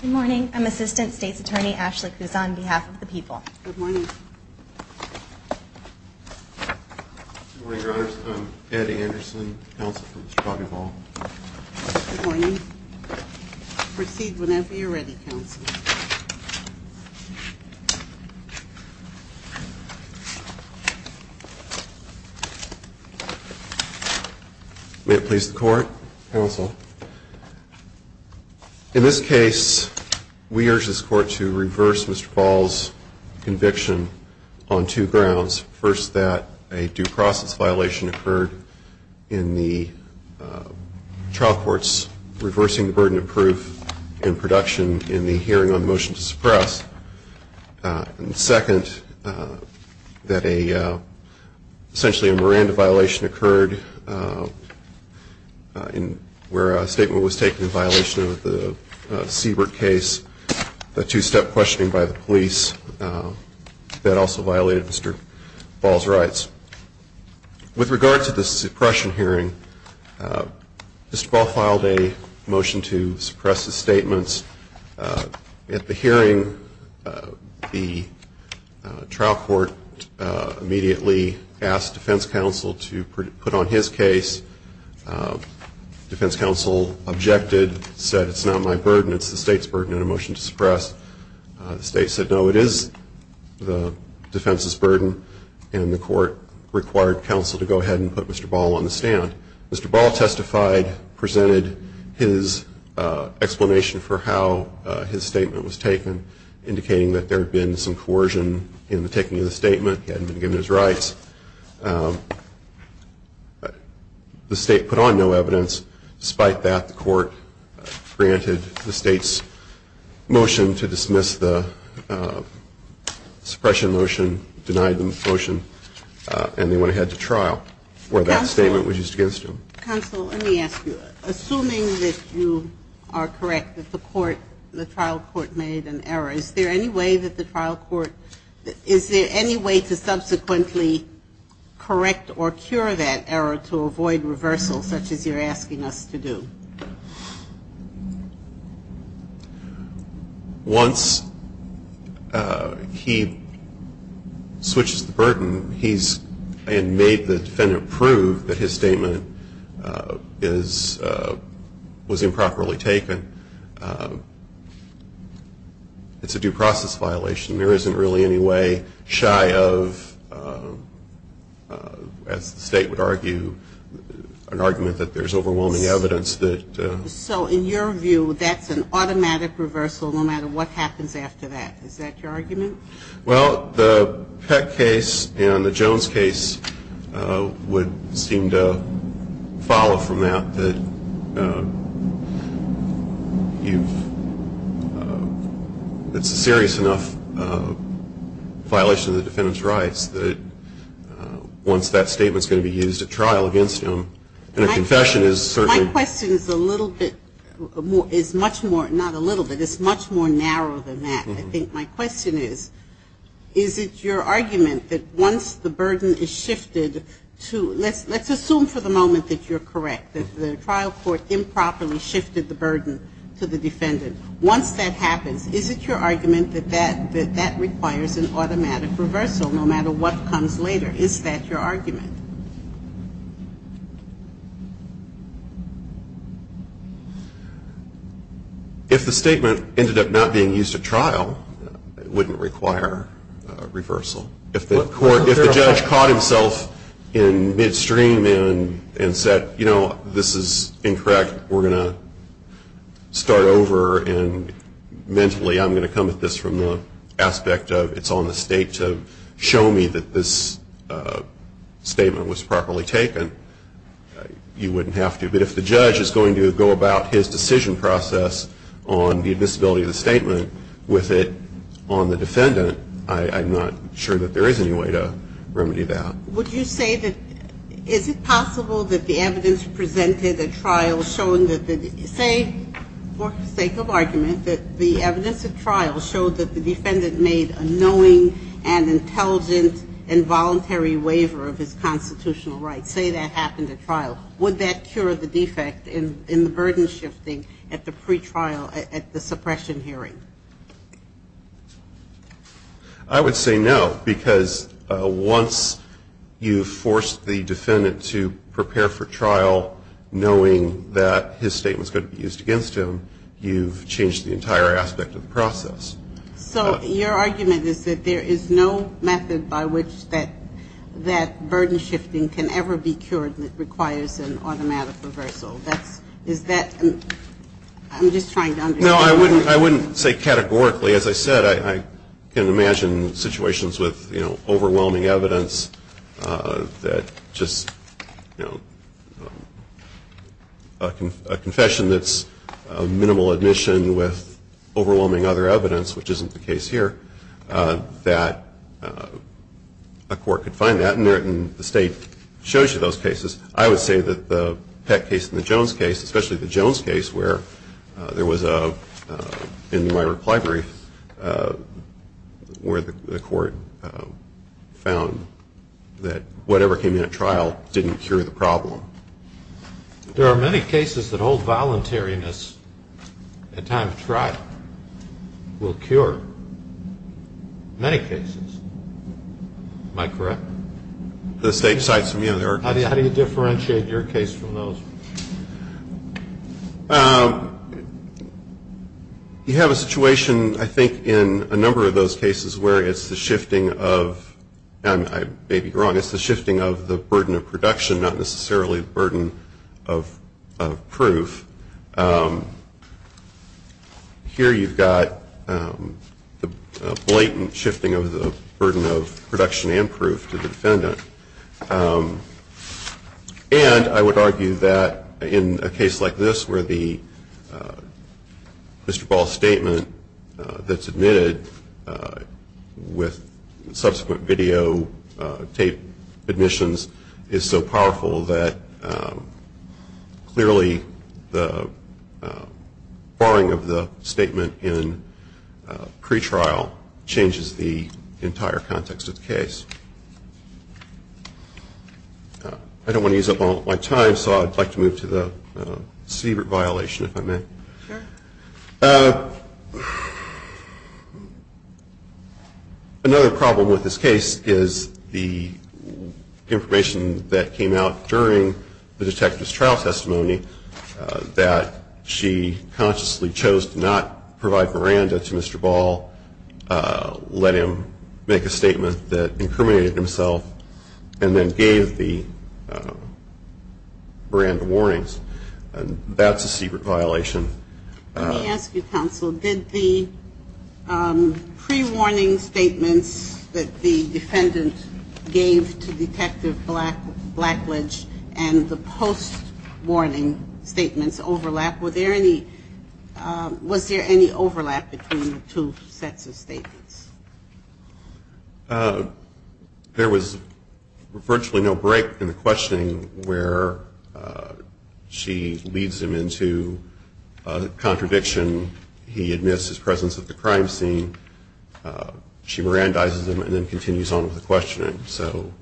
Good morning. I'm Assistant State's Attorney Ashley Kuzan on behalf of the people. Good morning, your honors. I'm Eddie Anderson, counsel for Mr. Bobby Ball. Good morning. Proceed whenever you're ready, counsel. May it please the court, counsel. In this case, we urge this court to reverse Mr. Ball's conviction on two grounds. First, that a due process violation occurred in the trial court's reversing the burden of proof in production in the hearing on the motion to suppress. And second, that essentially a Miranda violation occurred where a statement was taken in violation of the Siebert case, the two-step questioning by the police that also violated Mr. Ball's rights. With regard to the suppression hearing, Mr. Ball filed a motion to suppress his statements. At the hearing, the trial court immediately asked defense counsel to put on his case. Defense counsel objected, said it's not my burden, it's the state's burden in a motion to suppress. The state said no, it is the defense's burden, and the court required counsel to go ahead and put Mr. Ball on the stand. Mr. Ball testified, presented his explanation for how his statement was taken, indicating that there had been some coercion in the taking of the statement, he hadn't been given his rights. The state put on no evidence. Despite that, the court granted the state's motion to dismiss the suppression motion, denied the motion, and they went ahead to trial where that statement was used against him. Counsel, let me ask you, assuming that you are correct that the court, the trial court made an error, is there any way that the trial court, is there any way to subsequently correct or cure that error to avoid reversal such as you're asking us to do? Once he switches the burden, he's made the defendant prove that his statement is, was improperly taken, it's a due process violation. There isn't really any way, shy of, as the state would argue, an argument that there's overwhelming evidence that Mr. Ball's statement was taken. So in your view, that's an automatic reversal no matter what happens after that, is that your argument? Well, the Peck case and the Jones case would seem to follow from that, that you've, that's a serious enough violation of the defendant's rights that once that statement's going to be used at trial against him, and a confession is certainly My question is a little bit more, is much more, not a little bit, it's much more narrow than that. I think my question is, is it your argument that once the burden is shifted to, let's assume for the moment that you're correct, that the trial court improperly shifted the burden to the defendant, once that happens, is it your argument that that requires an automatic reversal no matter what comes later, is that your argument? If the statement ended up not being used at trial, it wouldn't require a reversal. If the court, if the judge caught himself in midstream and said, you know, this is incorrect, we're going to start over and mentally I'm going to come at this from the aspect of it's on the state to show me that this statement is, is correct. If the statement was properly taken, you wouldn't have to. But if the judge is going to go about his decision process on the admissibility of the statement with it on the defendant, I'm not sure that there is any way to remedy that. Would you say that, is it possible that the evidence presented at trial showing that the, say, for the sake of argument, that the evidence at trial showed that the defendant made a knowing and intelligent and voluntary waiver of his constitutional rights, say that happened at trial, would that cure the defect in the burden shifting at the pretrial, at the suppression hearing? I would say no, because once you force the defendant to prepare for trial knowing that his statement is going to be used against him, you've changed the entire aspect of the process. So your argument is that there is no method by which that, that burden shifting can ever be cured and it requires an automatic reversal. That's, is that, I'm just trying to understand. No, I wouldn't, I wouldn't say categorically. As I said, I can imagine situations with, you know, overwhelming evidence that just, you know, a confession that's minimal admission with overwhelming other evidence, which isn't the case here, that a court could find that. But given that the state shows you those cases, I would say that the Peck case and the Jones case, especially the Jones case where there was a, in my reply brief, where the court found that whatever came in at trial didn't cure the problem. There are many cases that hold voluntariness at time of trial will cure many cases. Am I correct? The state cites, you know, there are cases. How do you differentiate your case from those? You have a situation, I think, in a number of those cases where it's the shifting of, and I may be wrong, it's the shifting of the burden of production, not necessarily the burden of proof. Here you've got the blatant shifting of the burden of production and proof to the defendant. And I would argue that in a case like this where the Mr. Ball statement that's admitted with subsequent videotape admissions is so powerful that clearly the borrowing of the statement in pretrial changes the entire context of the case. I don't want to use up all my time, so I'd like to move to the Siebert violation, if I may. Another problem with this case is the information that came out during the detective's trial testimony that she consciously chose to not provide Miranda to Mr. Ball, let him make a statement that incriminated himself, and then gave the Miranda warnings. That's a Siebert violation. Let me ask you, counsel, did the pre-warning statements that the defendant gave to Detective Blackledge and the post-warning statements overlap? Was there any overlap between the two sets of statements? There was virtually no break in the questioning where she leads him into a contradiction. He admits his presence at the crime scene. She Mirandizes him and then continues on with the questioning. So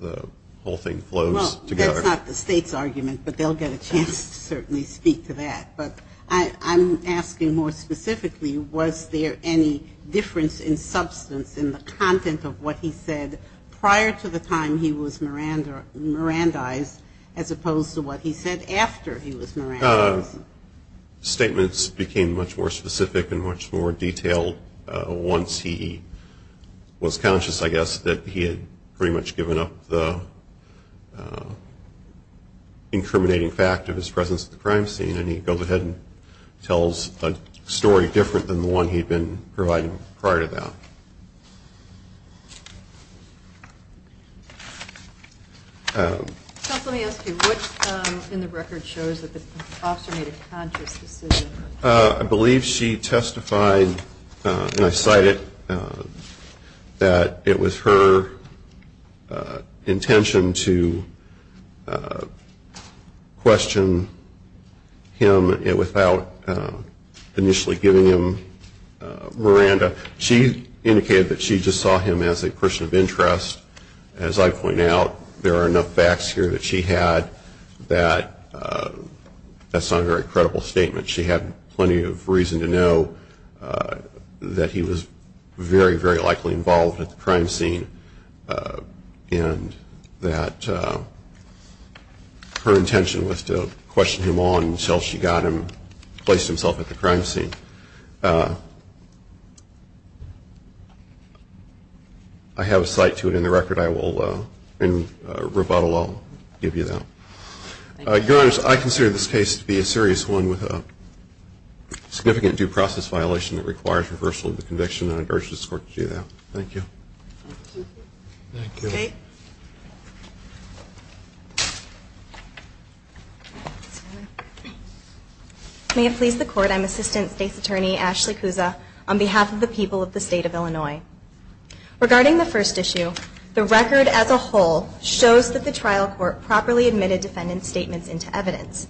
the whole thing flows together. That's not the state's argument, but they'll get a chance to certainly speak to that. But I'm asking more specifically, was there any difference in substance in the content of what he said prior to the time he was Mirandized, as opposed to what he said after he was Mirandized? The statements became much more specific and much more detailed once he was conscious, I guess, that he had pretty much given up the incriminating fact of his presence at the crime scene, and he goes ahead and tells a story different than the one he had been providing prior to that. Let me ask you, what in the record shows that the officer made a conscious decision? I believe she testified, and I cite it, that it was her intention to question him without initially giving him Miranda. She indicated that she just saw him as a person of interest. As I point out, there are enough facts here that she had that that's not a very credible statement. She had plenty of reason to know that he was very, very likely involved at the crime scene and that her intention was to question him on until she got him, placed himself at the crime scene. I have a cite to it in the record. In rebuttal, I'll give you that. Your Honor, I consider this case to be a serious one with a significant due process violation that requires reversal of the conviction, and I urge this Court to do that. Thank you. May it please the Court, I'm Assistant State's Attorney Ashley Cusa on behalf of the people of the State of Illinois. Regarding the first issue, the record as a whole shows that the trial court properly admitted defendant's statements into evidence.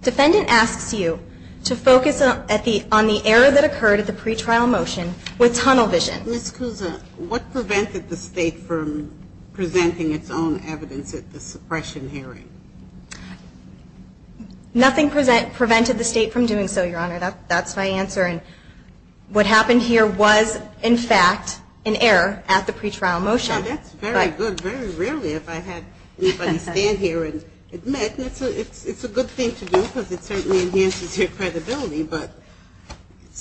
Defendant asks you to focus on the error that occurred at the pretrial motion with tunnel vision. Ms. Cusa, what prevented the State from presenting its own evidence at the suppression hearing? Nothing prevented the State from doing so, Your Honor. That's my answer, and what happened here was, in fact, an error at the pretrial motion. Well, that's very good, very rarely if I had anybody stand here and admit. It's a good thing to do because it certainly enhances your credibility, but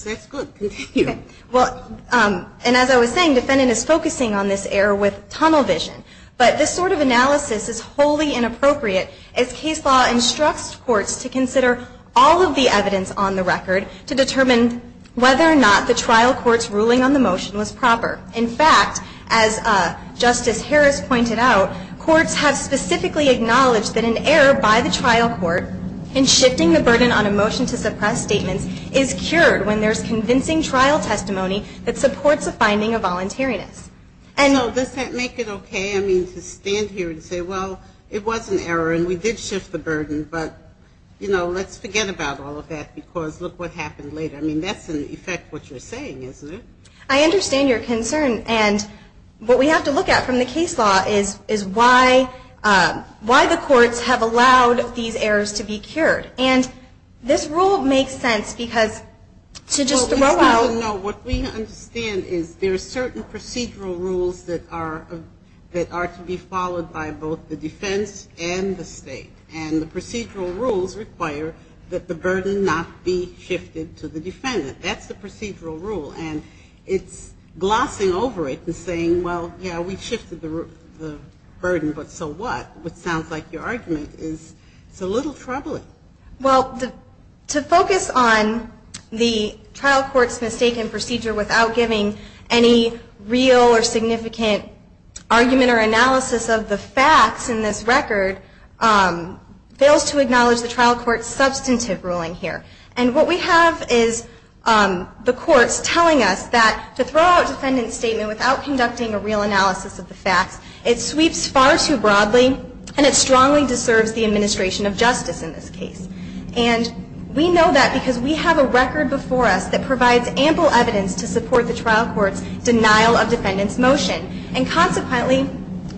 that's good. And as I was saying, defendant is focusing on this error with tunnel vision. But this sort of analysis is wholly inappropriate as case law instructs courts to consider all of the evidence on the record to determine whether or not the trial court's ruling on the motion was proper. In fact, as Justice Harris pointed out, courts have specifically acknowledged that an error by the trial court in shifting the burden on a motion to suppress statements is cured when there's convincing trial testimony that supports a finding of voluntariness. And does that make it okay, I mean, to stand here and say, well, it was an error and we did shift the burden, but, you know, let's forget about all of that because look what happened later. I mean, that's in effect what you're saying, isn't it? I understand your concern, and what we have to look at from the case law is why the courts have allowed these errors to be cured. And this rule makes sense because to just throw out — No, what we understand is there are certain procedural rules that are to be followed by both the defense and the state, and the procedural rules require that the burden not be shifted to the defendant. That's the procedural rule, and it's glossing over it and saying, well, yeah, we shifted the burden, but so what? Which sounds like your argument is it's a little troubling. Well, to focus on the trial court's mistaken procedure without giving any real or significant argument or analysis of the facts in this record, fails to acknowledge the trial court's substantive ruling here. And what we have is the courts telling us that to throw out a defendant's statement without conducting a real analysis of the facts, it sweeps far too broadly and it strongly deserves the administration of justice in this case. And we know that because we have a record before us that provides ample evidence to support the trial court's denial of defendant's motion. And consequently,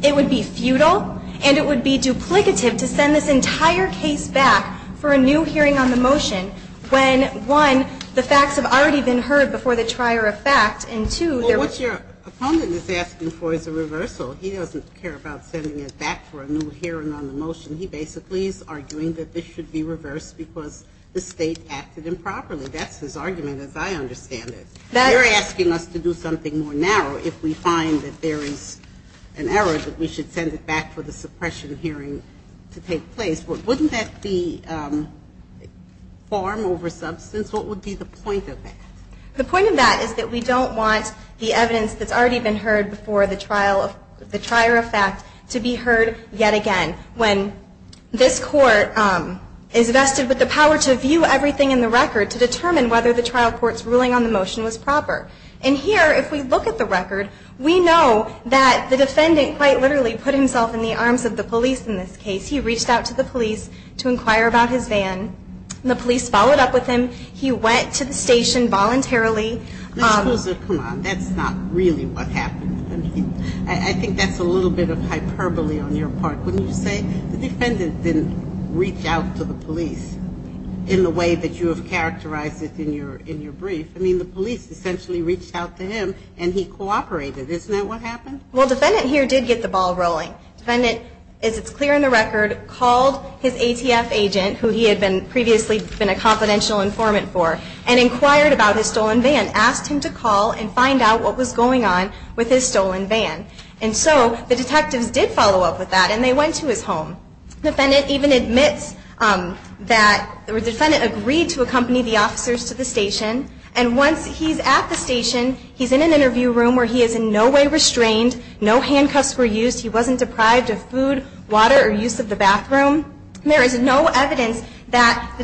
it would be futile and it would be duplicative to send this entire case back for a new hearing on the motion when, one, the facts have already been heard before the trier of fact, and two, there was — Well, what your opponent is asking for is a reversal. He doesn't care about sending it back for a new hearing on the motion. He basically is arguing that this should be reversed because the state acted improperly. That's his argument, as I understand it. You're asking us to do something more narrow if we find that there is an error that we should send it back for the suppression hearing to take place. Wouldn't that be farm over substance? What would be the point of that? The point of that is that we don't want the evidence that's already been heard before the trial of — the trier of fact to be heard yet again. When this court is vested with the power to view everything in the record to determine whether the trial court's ruling on the motion was proper. And here, if we look at the record, we know that the defendant quite literally put himself in the arms of the police in this case. He reached out to the police to inquire about his van. The police followed up with him. He went to the station voluntarily. Come on. That's not really what happened. I think that's a little bit of hyperbole on your part, wouldn't you say? The defendant didn't reach out to the police in the way that you have characterized it in your brief. I mean, the police essentially reached out to him, and he cooperated. Isn't that what happened? Well, the defendant here did get the ball rolling. The defendant, as it's clear in the record, called his ATF agent, who he had previously been a confidential informant for, and inquired about his stolen van. Asked him to call and find out what was going on with his stolen van. And so the detectives did follow up with that, and they went to his home. The defendant even admits that the defendant agreed to accompany the officers to the station. And once he's at the station, he's in an interview room where he is in no way restrained. No handcuffs were used. He wasn't deprived of food, water, or use of the bathroom. There is no evidence that the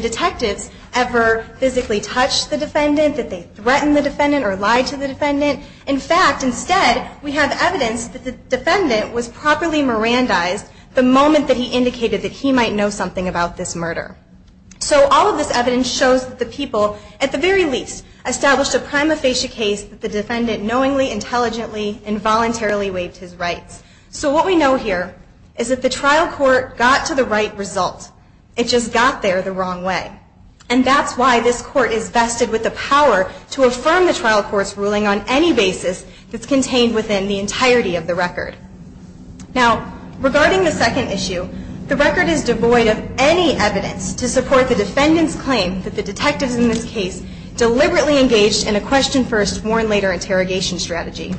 detectives ever physically touched the defendant, that they threatened the defendant, or lied to the defendant. In fact, instead, we have evidence that the defendant was properly Mirandized the moment that he indicated that he might know something about this murder. So all of this evidence shows that the people, at the very least, established a prima facie case that the defendant knowingly, intelligently, informed the police. And voluntarily waived his rights. So what we know here, is that the trial court got to the right result. It just got there the wrong way. And that's why this court is vested with the power to affirm the trial court's ruling on any basis that's contained within the entirety of the record. Now, regarding the second issue, the record is devoid of any evidence to support the defendant's claim that the detectives in this case deliberately engaged in a question first, warn later interrogation strategy.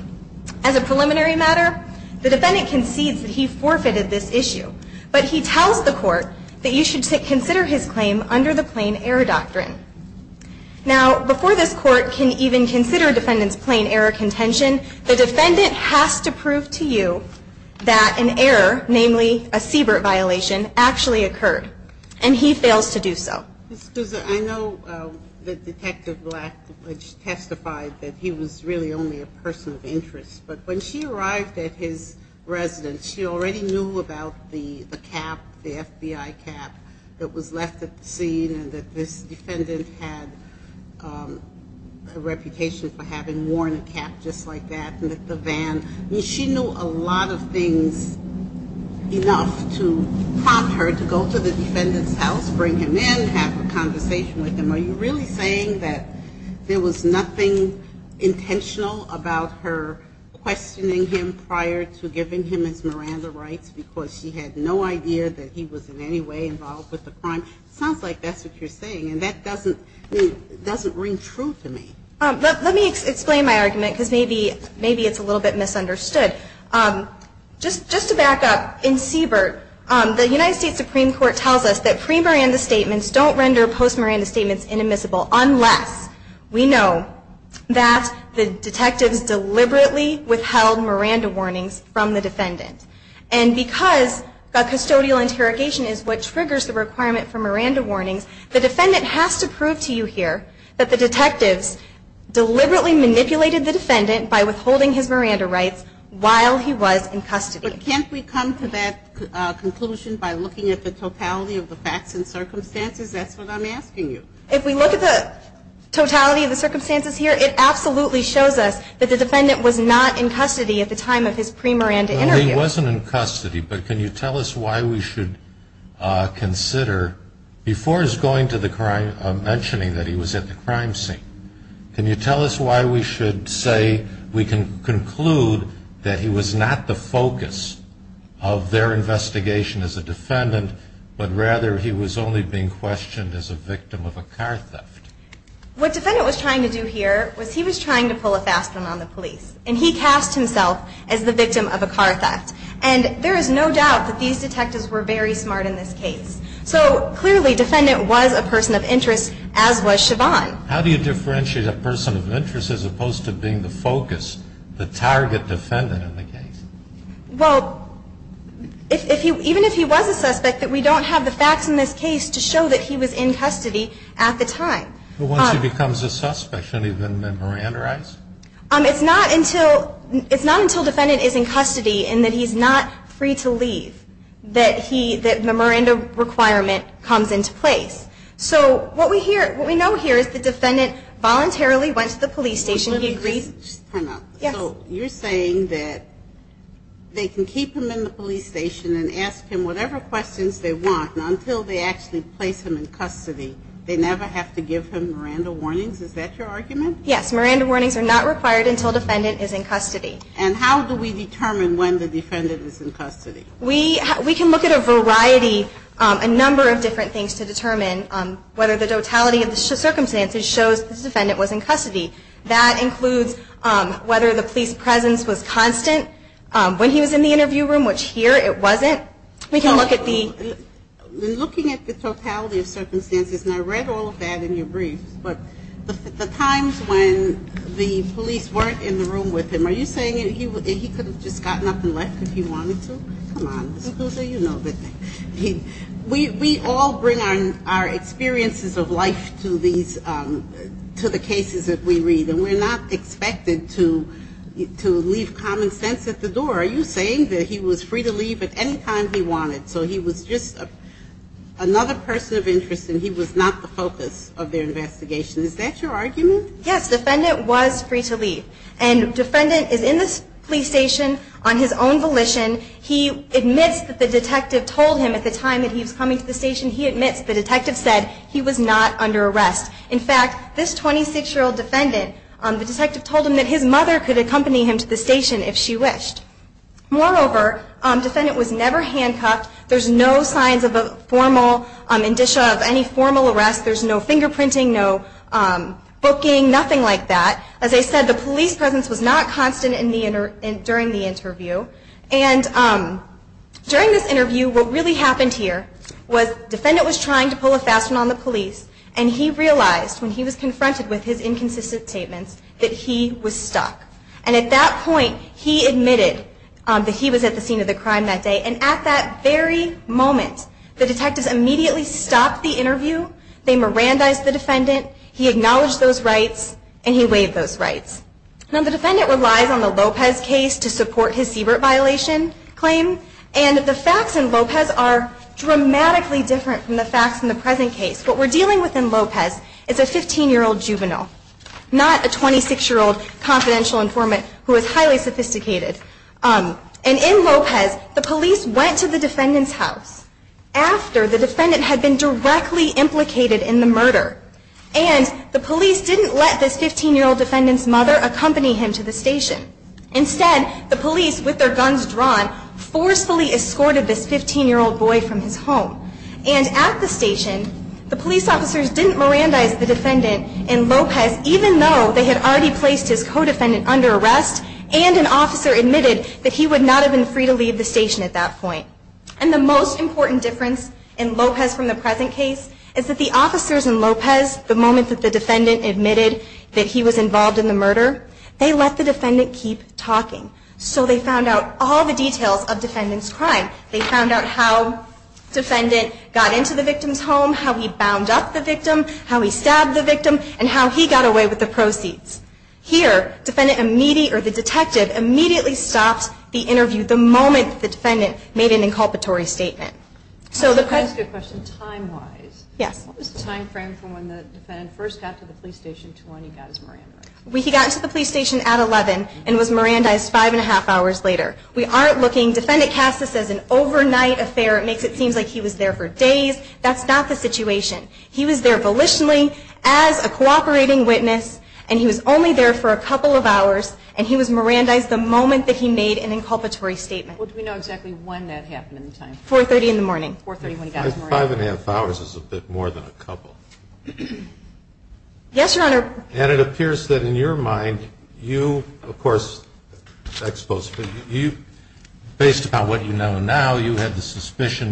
As a preliminary matter, the defendant concedes that he forfeited this issue. But he tells the court that you should consider his claim under the plain error doctrine. Now, before this court can even consider a defendant's plain error contention, the defendant has to prove to you that an error, namely a Siebert violation, actually occurred. And he fails to do so. Ms. Kuzza, I know that Detective Black, which testified that he was really only a person of interest. But when she arrived at his residence, she already knew about the cap, the FBI cap, that was left at the scene. And that this defendant had a reputation for having worn a cap just like that. And that the van. She knew a lot of things enough to prompt her to go to the defendant's house, bring him in, have a conversation with him. Are you really saying that there was nothing intentional about her questioning him prior to giving him his Miranda rights? Because she had no idea that he was in any way involved with the crime? Sounds like that's what you're saying. And that doesn't ring true to me. Let me explain my argument, because maybe it's a little bit misunderstood. Just to back up, in Siebert, the United States Supreme Court tells us that pre-Miranda statements don't render post-Miranda statements inadmissible unless we know that the detectives deliberately withheld Miranda warnings from the defendant. And because the custodial interrogation is what triggers the requirement for Miranda warnings, the defendant has to prove to you here that the detectives deliberately manipulated the defendant by withholding his Miranda rights while he was in custody. But can't we come to that conclusion by looking at the totality of the facts and circumstances? That's what I'm asking you. If we look at the totality of the circumstances here, it absolutely shows us that the defendant was not in custody at the time of his pre-Miranda interview. No, he wasn't in custody. But can you tell us why we should consider, before he's going to the crime, mentioning that he was at the crime scene, can you tell us why we should say we can conclude that he was not the focus of their investigation as a defendant, but rather he was only being questioned as a victim of a car theft? What the defendant was trying to do here was he was trying to pull a fast one on the police. And he cast himself as the victim of a car theft. And there is no doubt that these detectives were very smart in this case. So clearly, defendant was a person of interest, as was Siobhan. How do you differentiate a person of interest as opposed to being the focus, the target defendant in the case? Well, even if he was a suspect, we don't have the facts in this case to show that he was in custody at the time. But once he becomes a suspect, shouldn't he have been Miranda-ized? It's not until defendant is in custody and that he's not free to leave that the Miranda requirement comes into place. So what we know here is the defendant voluntarily went to the police station. So you're saying that they can keep him in the police station and ask him whatever questions they want, and until they actually place him in custody, they never have to give him Miranda warnings? Is that your argument? Yes. Miranda warnings are not required until defendant is in custody. And how do we determine when the defendant is in custody? We can look at a variety, a number of different things to determine whether the totality of the circumstances shows this defendant was in custody. That includes whether the police presence was constant when he was in the interview room, which here it wasn't. In looking at the totality of circumstances, and I read all of that in your briefs, but the times when the police weren't in the room with him, are you saying he could have just gotten up and left if he wanted to? Come on. We all bring our experiences of life to the cases that we read, and we're not expected to leave common sense at the door. Are you saying that he was free to leave at any time he wanted? So he was just another person of interest, and he was not the focus of their investigation? Is that your argument? Yes. The defendant was free to leave. And the defendant is in this police station on his own volition. He admits that the detective told him at the time that he was coming to the station, he admits the detective said he was not under arrest. In fact, this 26-year-old defendant, the detective told him that his mother could accompany him to the station if she wished. Moreover, the defendant was never handcuffed, and he was never arrested. He was never handcuffed. There are no signs of any formal arrest. There's no fingerprinting, no booking, nothing like that. As I said, the police presence was not constant during the interview. During this interview, what really happened here was the defendant was trying to pull a fast one on the police and he realized, when he was confronted with his inconsistent statements, that he was stuck. And at that point, he admitted that he was at the scene of the crime that day, and at that very moment, he admitted that he was stuck. The detectives immediately stopped the interview, they Mirandized the defendant, he acknowledged those rights, and he waived those rights. Now the defendant relies on the Lopez case to support his CBRT violation claim, and the facts in Lopez are dramatically different from the facts in the present case. What we're dealing with in Lopez is a 15-year-old juvenile, not a 26-year-old confidential informant who is highly sophisticated. And in Lopez, the police went to the defendant's house after the defendant had been directly implicated in the murder. And the police didn't let this 15-year-old defendant's mother accompany him to the station. Instead, the police, with their guns drawn, forcefully escorted this 15-year-old boy from his home. And at the station, the police officers didn't Mirandize the defendant in Lopez, even though they had already placed his co-defendant under arrest, and an officer admitted that he would not have been free to leave the station at that point. And the most important difference in Lopez from the present case is that the officers in Lopez, the moment that the defendant admitted that he was involved in the murder, they let the defendant keep talking. So they found out all the details of the defendant's crime. They found out how the defendant got into the victim's home, how he bound up the victim, how he stabbed the victim, and how he got away with the proceeds. Here, the detective immediately stopped the interview the moment the defendant made an inculpatory statement. That's a good question. Time-wise, what was the time frame from when the defendant first got to the police station to when he got his Mirandize? He got to the police station at 11 and was Mirandized five and a half hours later. We aren't looking, defendant casts this as an overnight affair. It makes it seem like he was there for days. That's not the situation. He was there volitionally as a cooperating witness, and he was only there for a couple of hours, and he was Mirandized the moment that he made an inculpatory statement. What do we know exactly when that happened in time? 4.30 in the morning. 4.30 when he got his Mirandize. Yes, Your Honor. And it appears that in your mind you, of course, based upon what you know now, you have the suspicion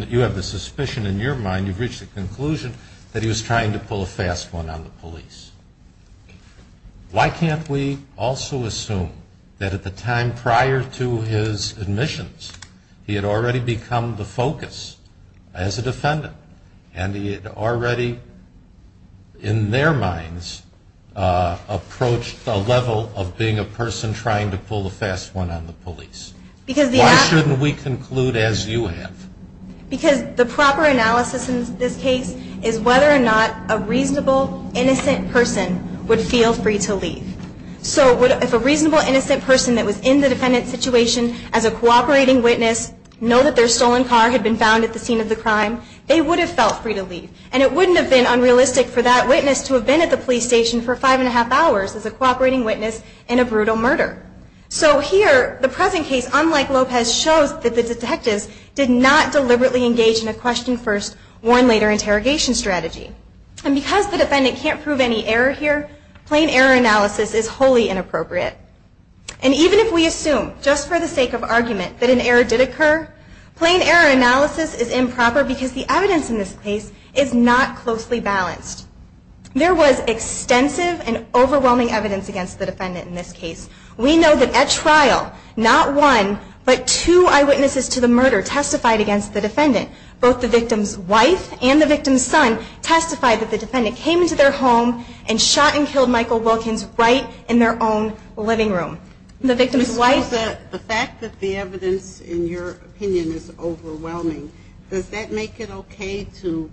in your mind, you've reached the conclusion that he was trying to pull a fast one on the police. Why can't we also assume that at the time prior to his admissions, he had already become the focus as a defendant, and he had already, in their minds, approached the level of being a person trying to pull a fast one on the police? Why shouldn't we conclude as you have? Because the proper analysis in this case is whether or not a reasonable, innocent person would feel free to leave. So if a reasonable, innocent person that was in the defendant's situation as a cooperating witness knew that their stolen car had been found at the scene of the crime, they would have felt free to leave. And it wouldn't have been unrealistic for that witness to have been at the police station for five and a half hours as a cooperating witness in a brutal murder. So here, the present case, unlike Lopez, shows that the detectives did not deliberately engage in a question first, warn later interrogation strategy. And because the defendant can't prove any error here, plain error analysis is wholly inappropriate. And even if we assume, just for the sake of argument, that an error did occur, plain error analysis is improper because the evidence in this case is not closely balanced. There was extensive and overwhelming evidence against the defendant in this case. We know that at trial, not one, but two eyewitnesses to the murder testified against the defendant. Both the victim's wife and the victim's son testified that the defendant came into their home and shot and killed Michael Wilkins right in their own living room. The victim's wife. The fact that the evidence in your opinion is overwhelming, does that make it okay to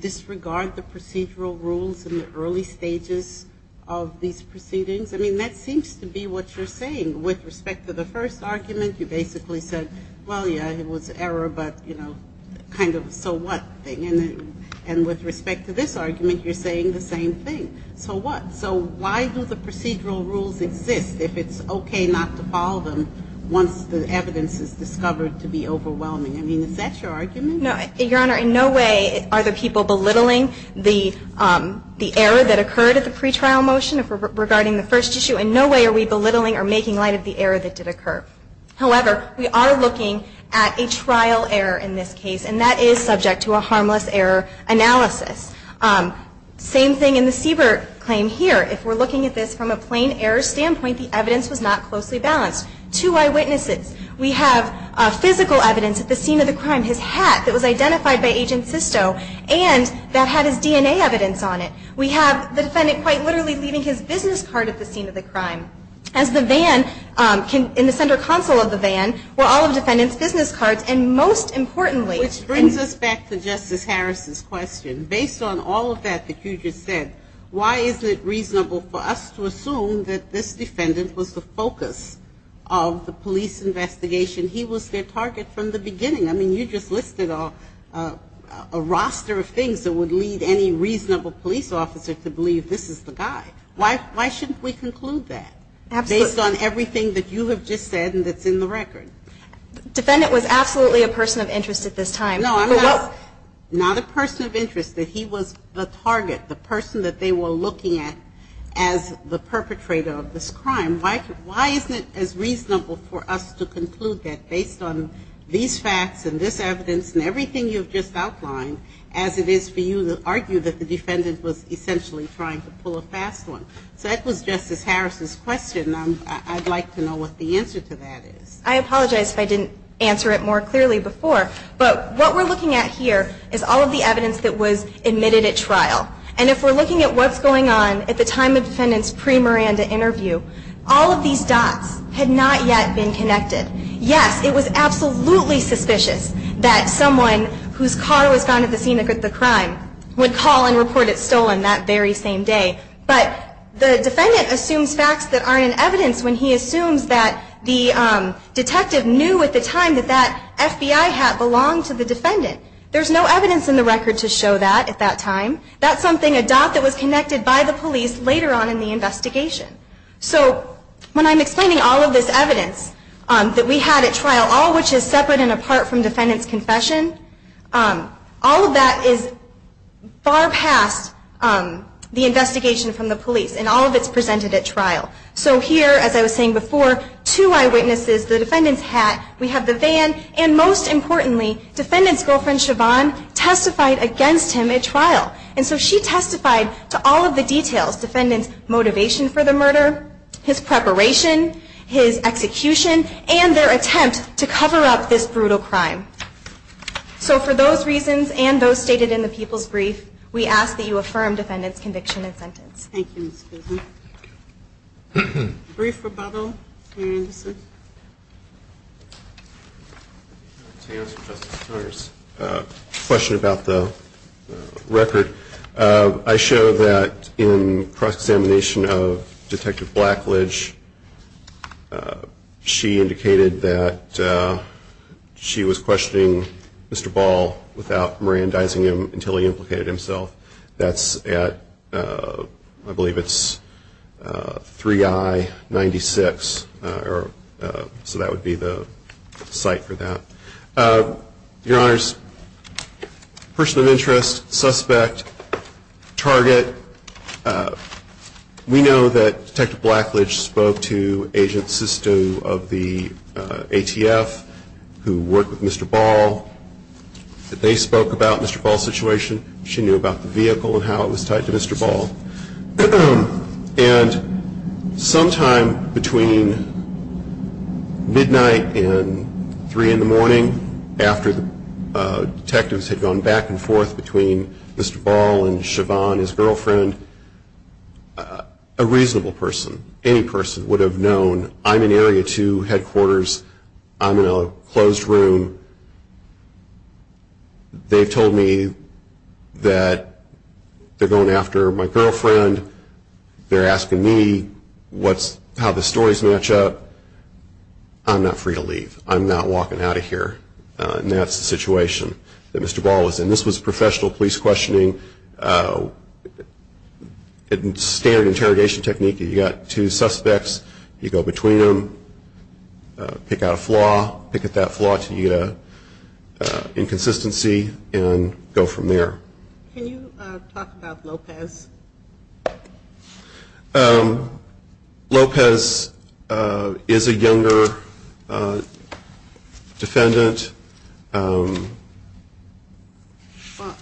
disregard the procedural rules in the early stages of these proceedings? I mean, that seems to be what you're saying. With respect to the first argument, you basically said, well, yeah, it was error, but, you know, kind of a so what thing. And with respect to this argument, you're saying the same thing. So what? So why do the procedural rules exist if it's okay not to follow them once the evidence is discovered to be overwhelming? I mean, is that your argument? No, Your Honor. In no way are the people belittling the error that occurred at the pretrial motion regarding the first issue. In no way are we belittling or making light of the error that did occur. However, we are looking at a trial error in this case, and that is subject to a harmless error analysis. Same thing in the Siebert claim here. If we're looking at this from a plain error standpoint, the evidence was not closely balanced. Two eyewitnesses. We have physical evidence at the scene of the crime. His hat that was identified by Agent Sisto and that had his DNA evidence on it. We have the defendant quite literally leaving his business card at the scene of the crime. As the van, in the center console of the van, were all of the defendant's business cards. And most importantly. Which brings us back to Justice Harris' question. Based on all of that that you just said, why is it reasonable for us to assume that this defendant was the focus of the police investigation? He was their target from the beginning. I mean, you just listed a roster of things that would lead any reasonable police officer to believe this is the guy. Why shouldn't we conclude that? Absolutely. Based on everything that you have just said and that's in the record. The defendant was absolutely a person of interest at this time. No, I'm not. Not a person of interest. He was the target. The person that they were looking at as the perpetrator of this crime. Why isn't it as reasonable for us to conclude that based on these facts and this evidence and everything you've just outlined, as it is for you to argue that the defendant was essentially trying to pull a fast one? So that was Justice Harris' question. I'd like to know what the answer to that is. I apologize if I didn't answer it more clearly before. But what we're looking at here is all of the evidence that was admitted at trial. And if we're looking at what's going on at the time of the defendant's pre-Miranda interview, all of these dots had not yet been connected. Yes, it was absolutely suspicious that someone whose car was found at the scene of the crime would call and report it stolen that very same day. But the defendant assumes facts that aren't in evidence when he assumes that the detective knew at the time that that FBI hat belonged to the defendant. There's no evidence in the record to show that at that time. That's something, a dot that was connected by the police later on in the investigation. So when I'm explaining all of this evidence that we had at trial, all of which is separate and apart from the defendant's confession, all of that is far past the investigation from the police. And all of it's presented at trial. So here, as I was saying before, two eyewitnesses, the defendant's hat, we have the van, and most importantly, defendant's girlfriend, Siobhan, testified against him at trial. And so she testified to all of the details. Defendant's motivation for the murder, his preparation, his execution, and their attempt to cover up this brutal crime. So for those reasons and those stated in the people's brief, we ask that you affirm defendant's conviction and sentence. Thank you, Ms. Casey. Brief rebuttal, Mayor Anderson. Thank you. Question about the record. I show that in cross-examination of Detective Blackledge, she indicated that she was questioning Mr. Ball without Mirandizing him until he implicated himself. That's at, I believe it's 3I96, so that would be the site for that. Your Honors, person of interest, suspect, target, we know that Detective Blackledge spoke to Agent Sisto of the ATF who worked with Mr. Ball. They spoke about Mr. Ball's situation. She knew about the vehicle and how it was tied to Mr. Ball. And sometime between midnight and 3 in the morning, after the detectives had gone back and forth between Mr. Ball and Siobhan, his girlfriend, a reasonable person, any person, would have known, I'm in Area 2 Headquarters. I'm in a closed room. They've told me that they're going after my girlfriend. They're asking me how the stories match up. I'm not free to leave. I'm not walking out of here. And that's the situation that Mr. Ball was in. This was professional police questioning, standard interrogation technique. You've got two suspects. You go between them, pick out a flaw, pick at that flaw until you get an inconsistency, and go from there. Can you talk about Lopez? Lopez is a younger defendant.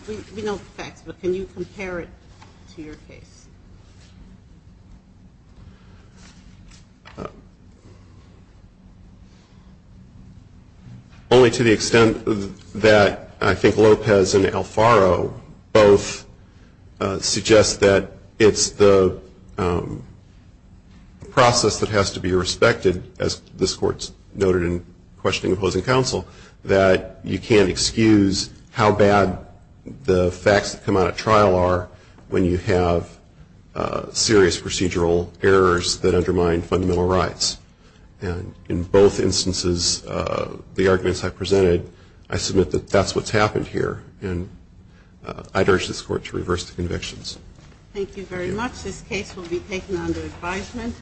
We know the facts, but can you compare it to your case? Only to the extent that I think Lopez and Alfaro both suggest that it's the process that has to be respected, noted in Questioning Opposing Counsel, that you can't excuse how bad the facts that come out at trial are when you have serious procedural errors that undermine fundamental rights. And in both instances, the arguments I presented, I submit that that's what's happened here. And I'd urge this Court to reverse the convictions. Thank you very much. This case will be taken under advisement.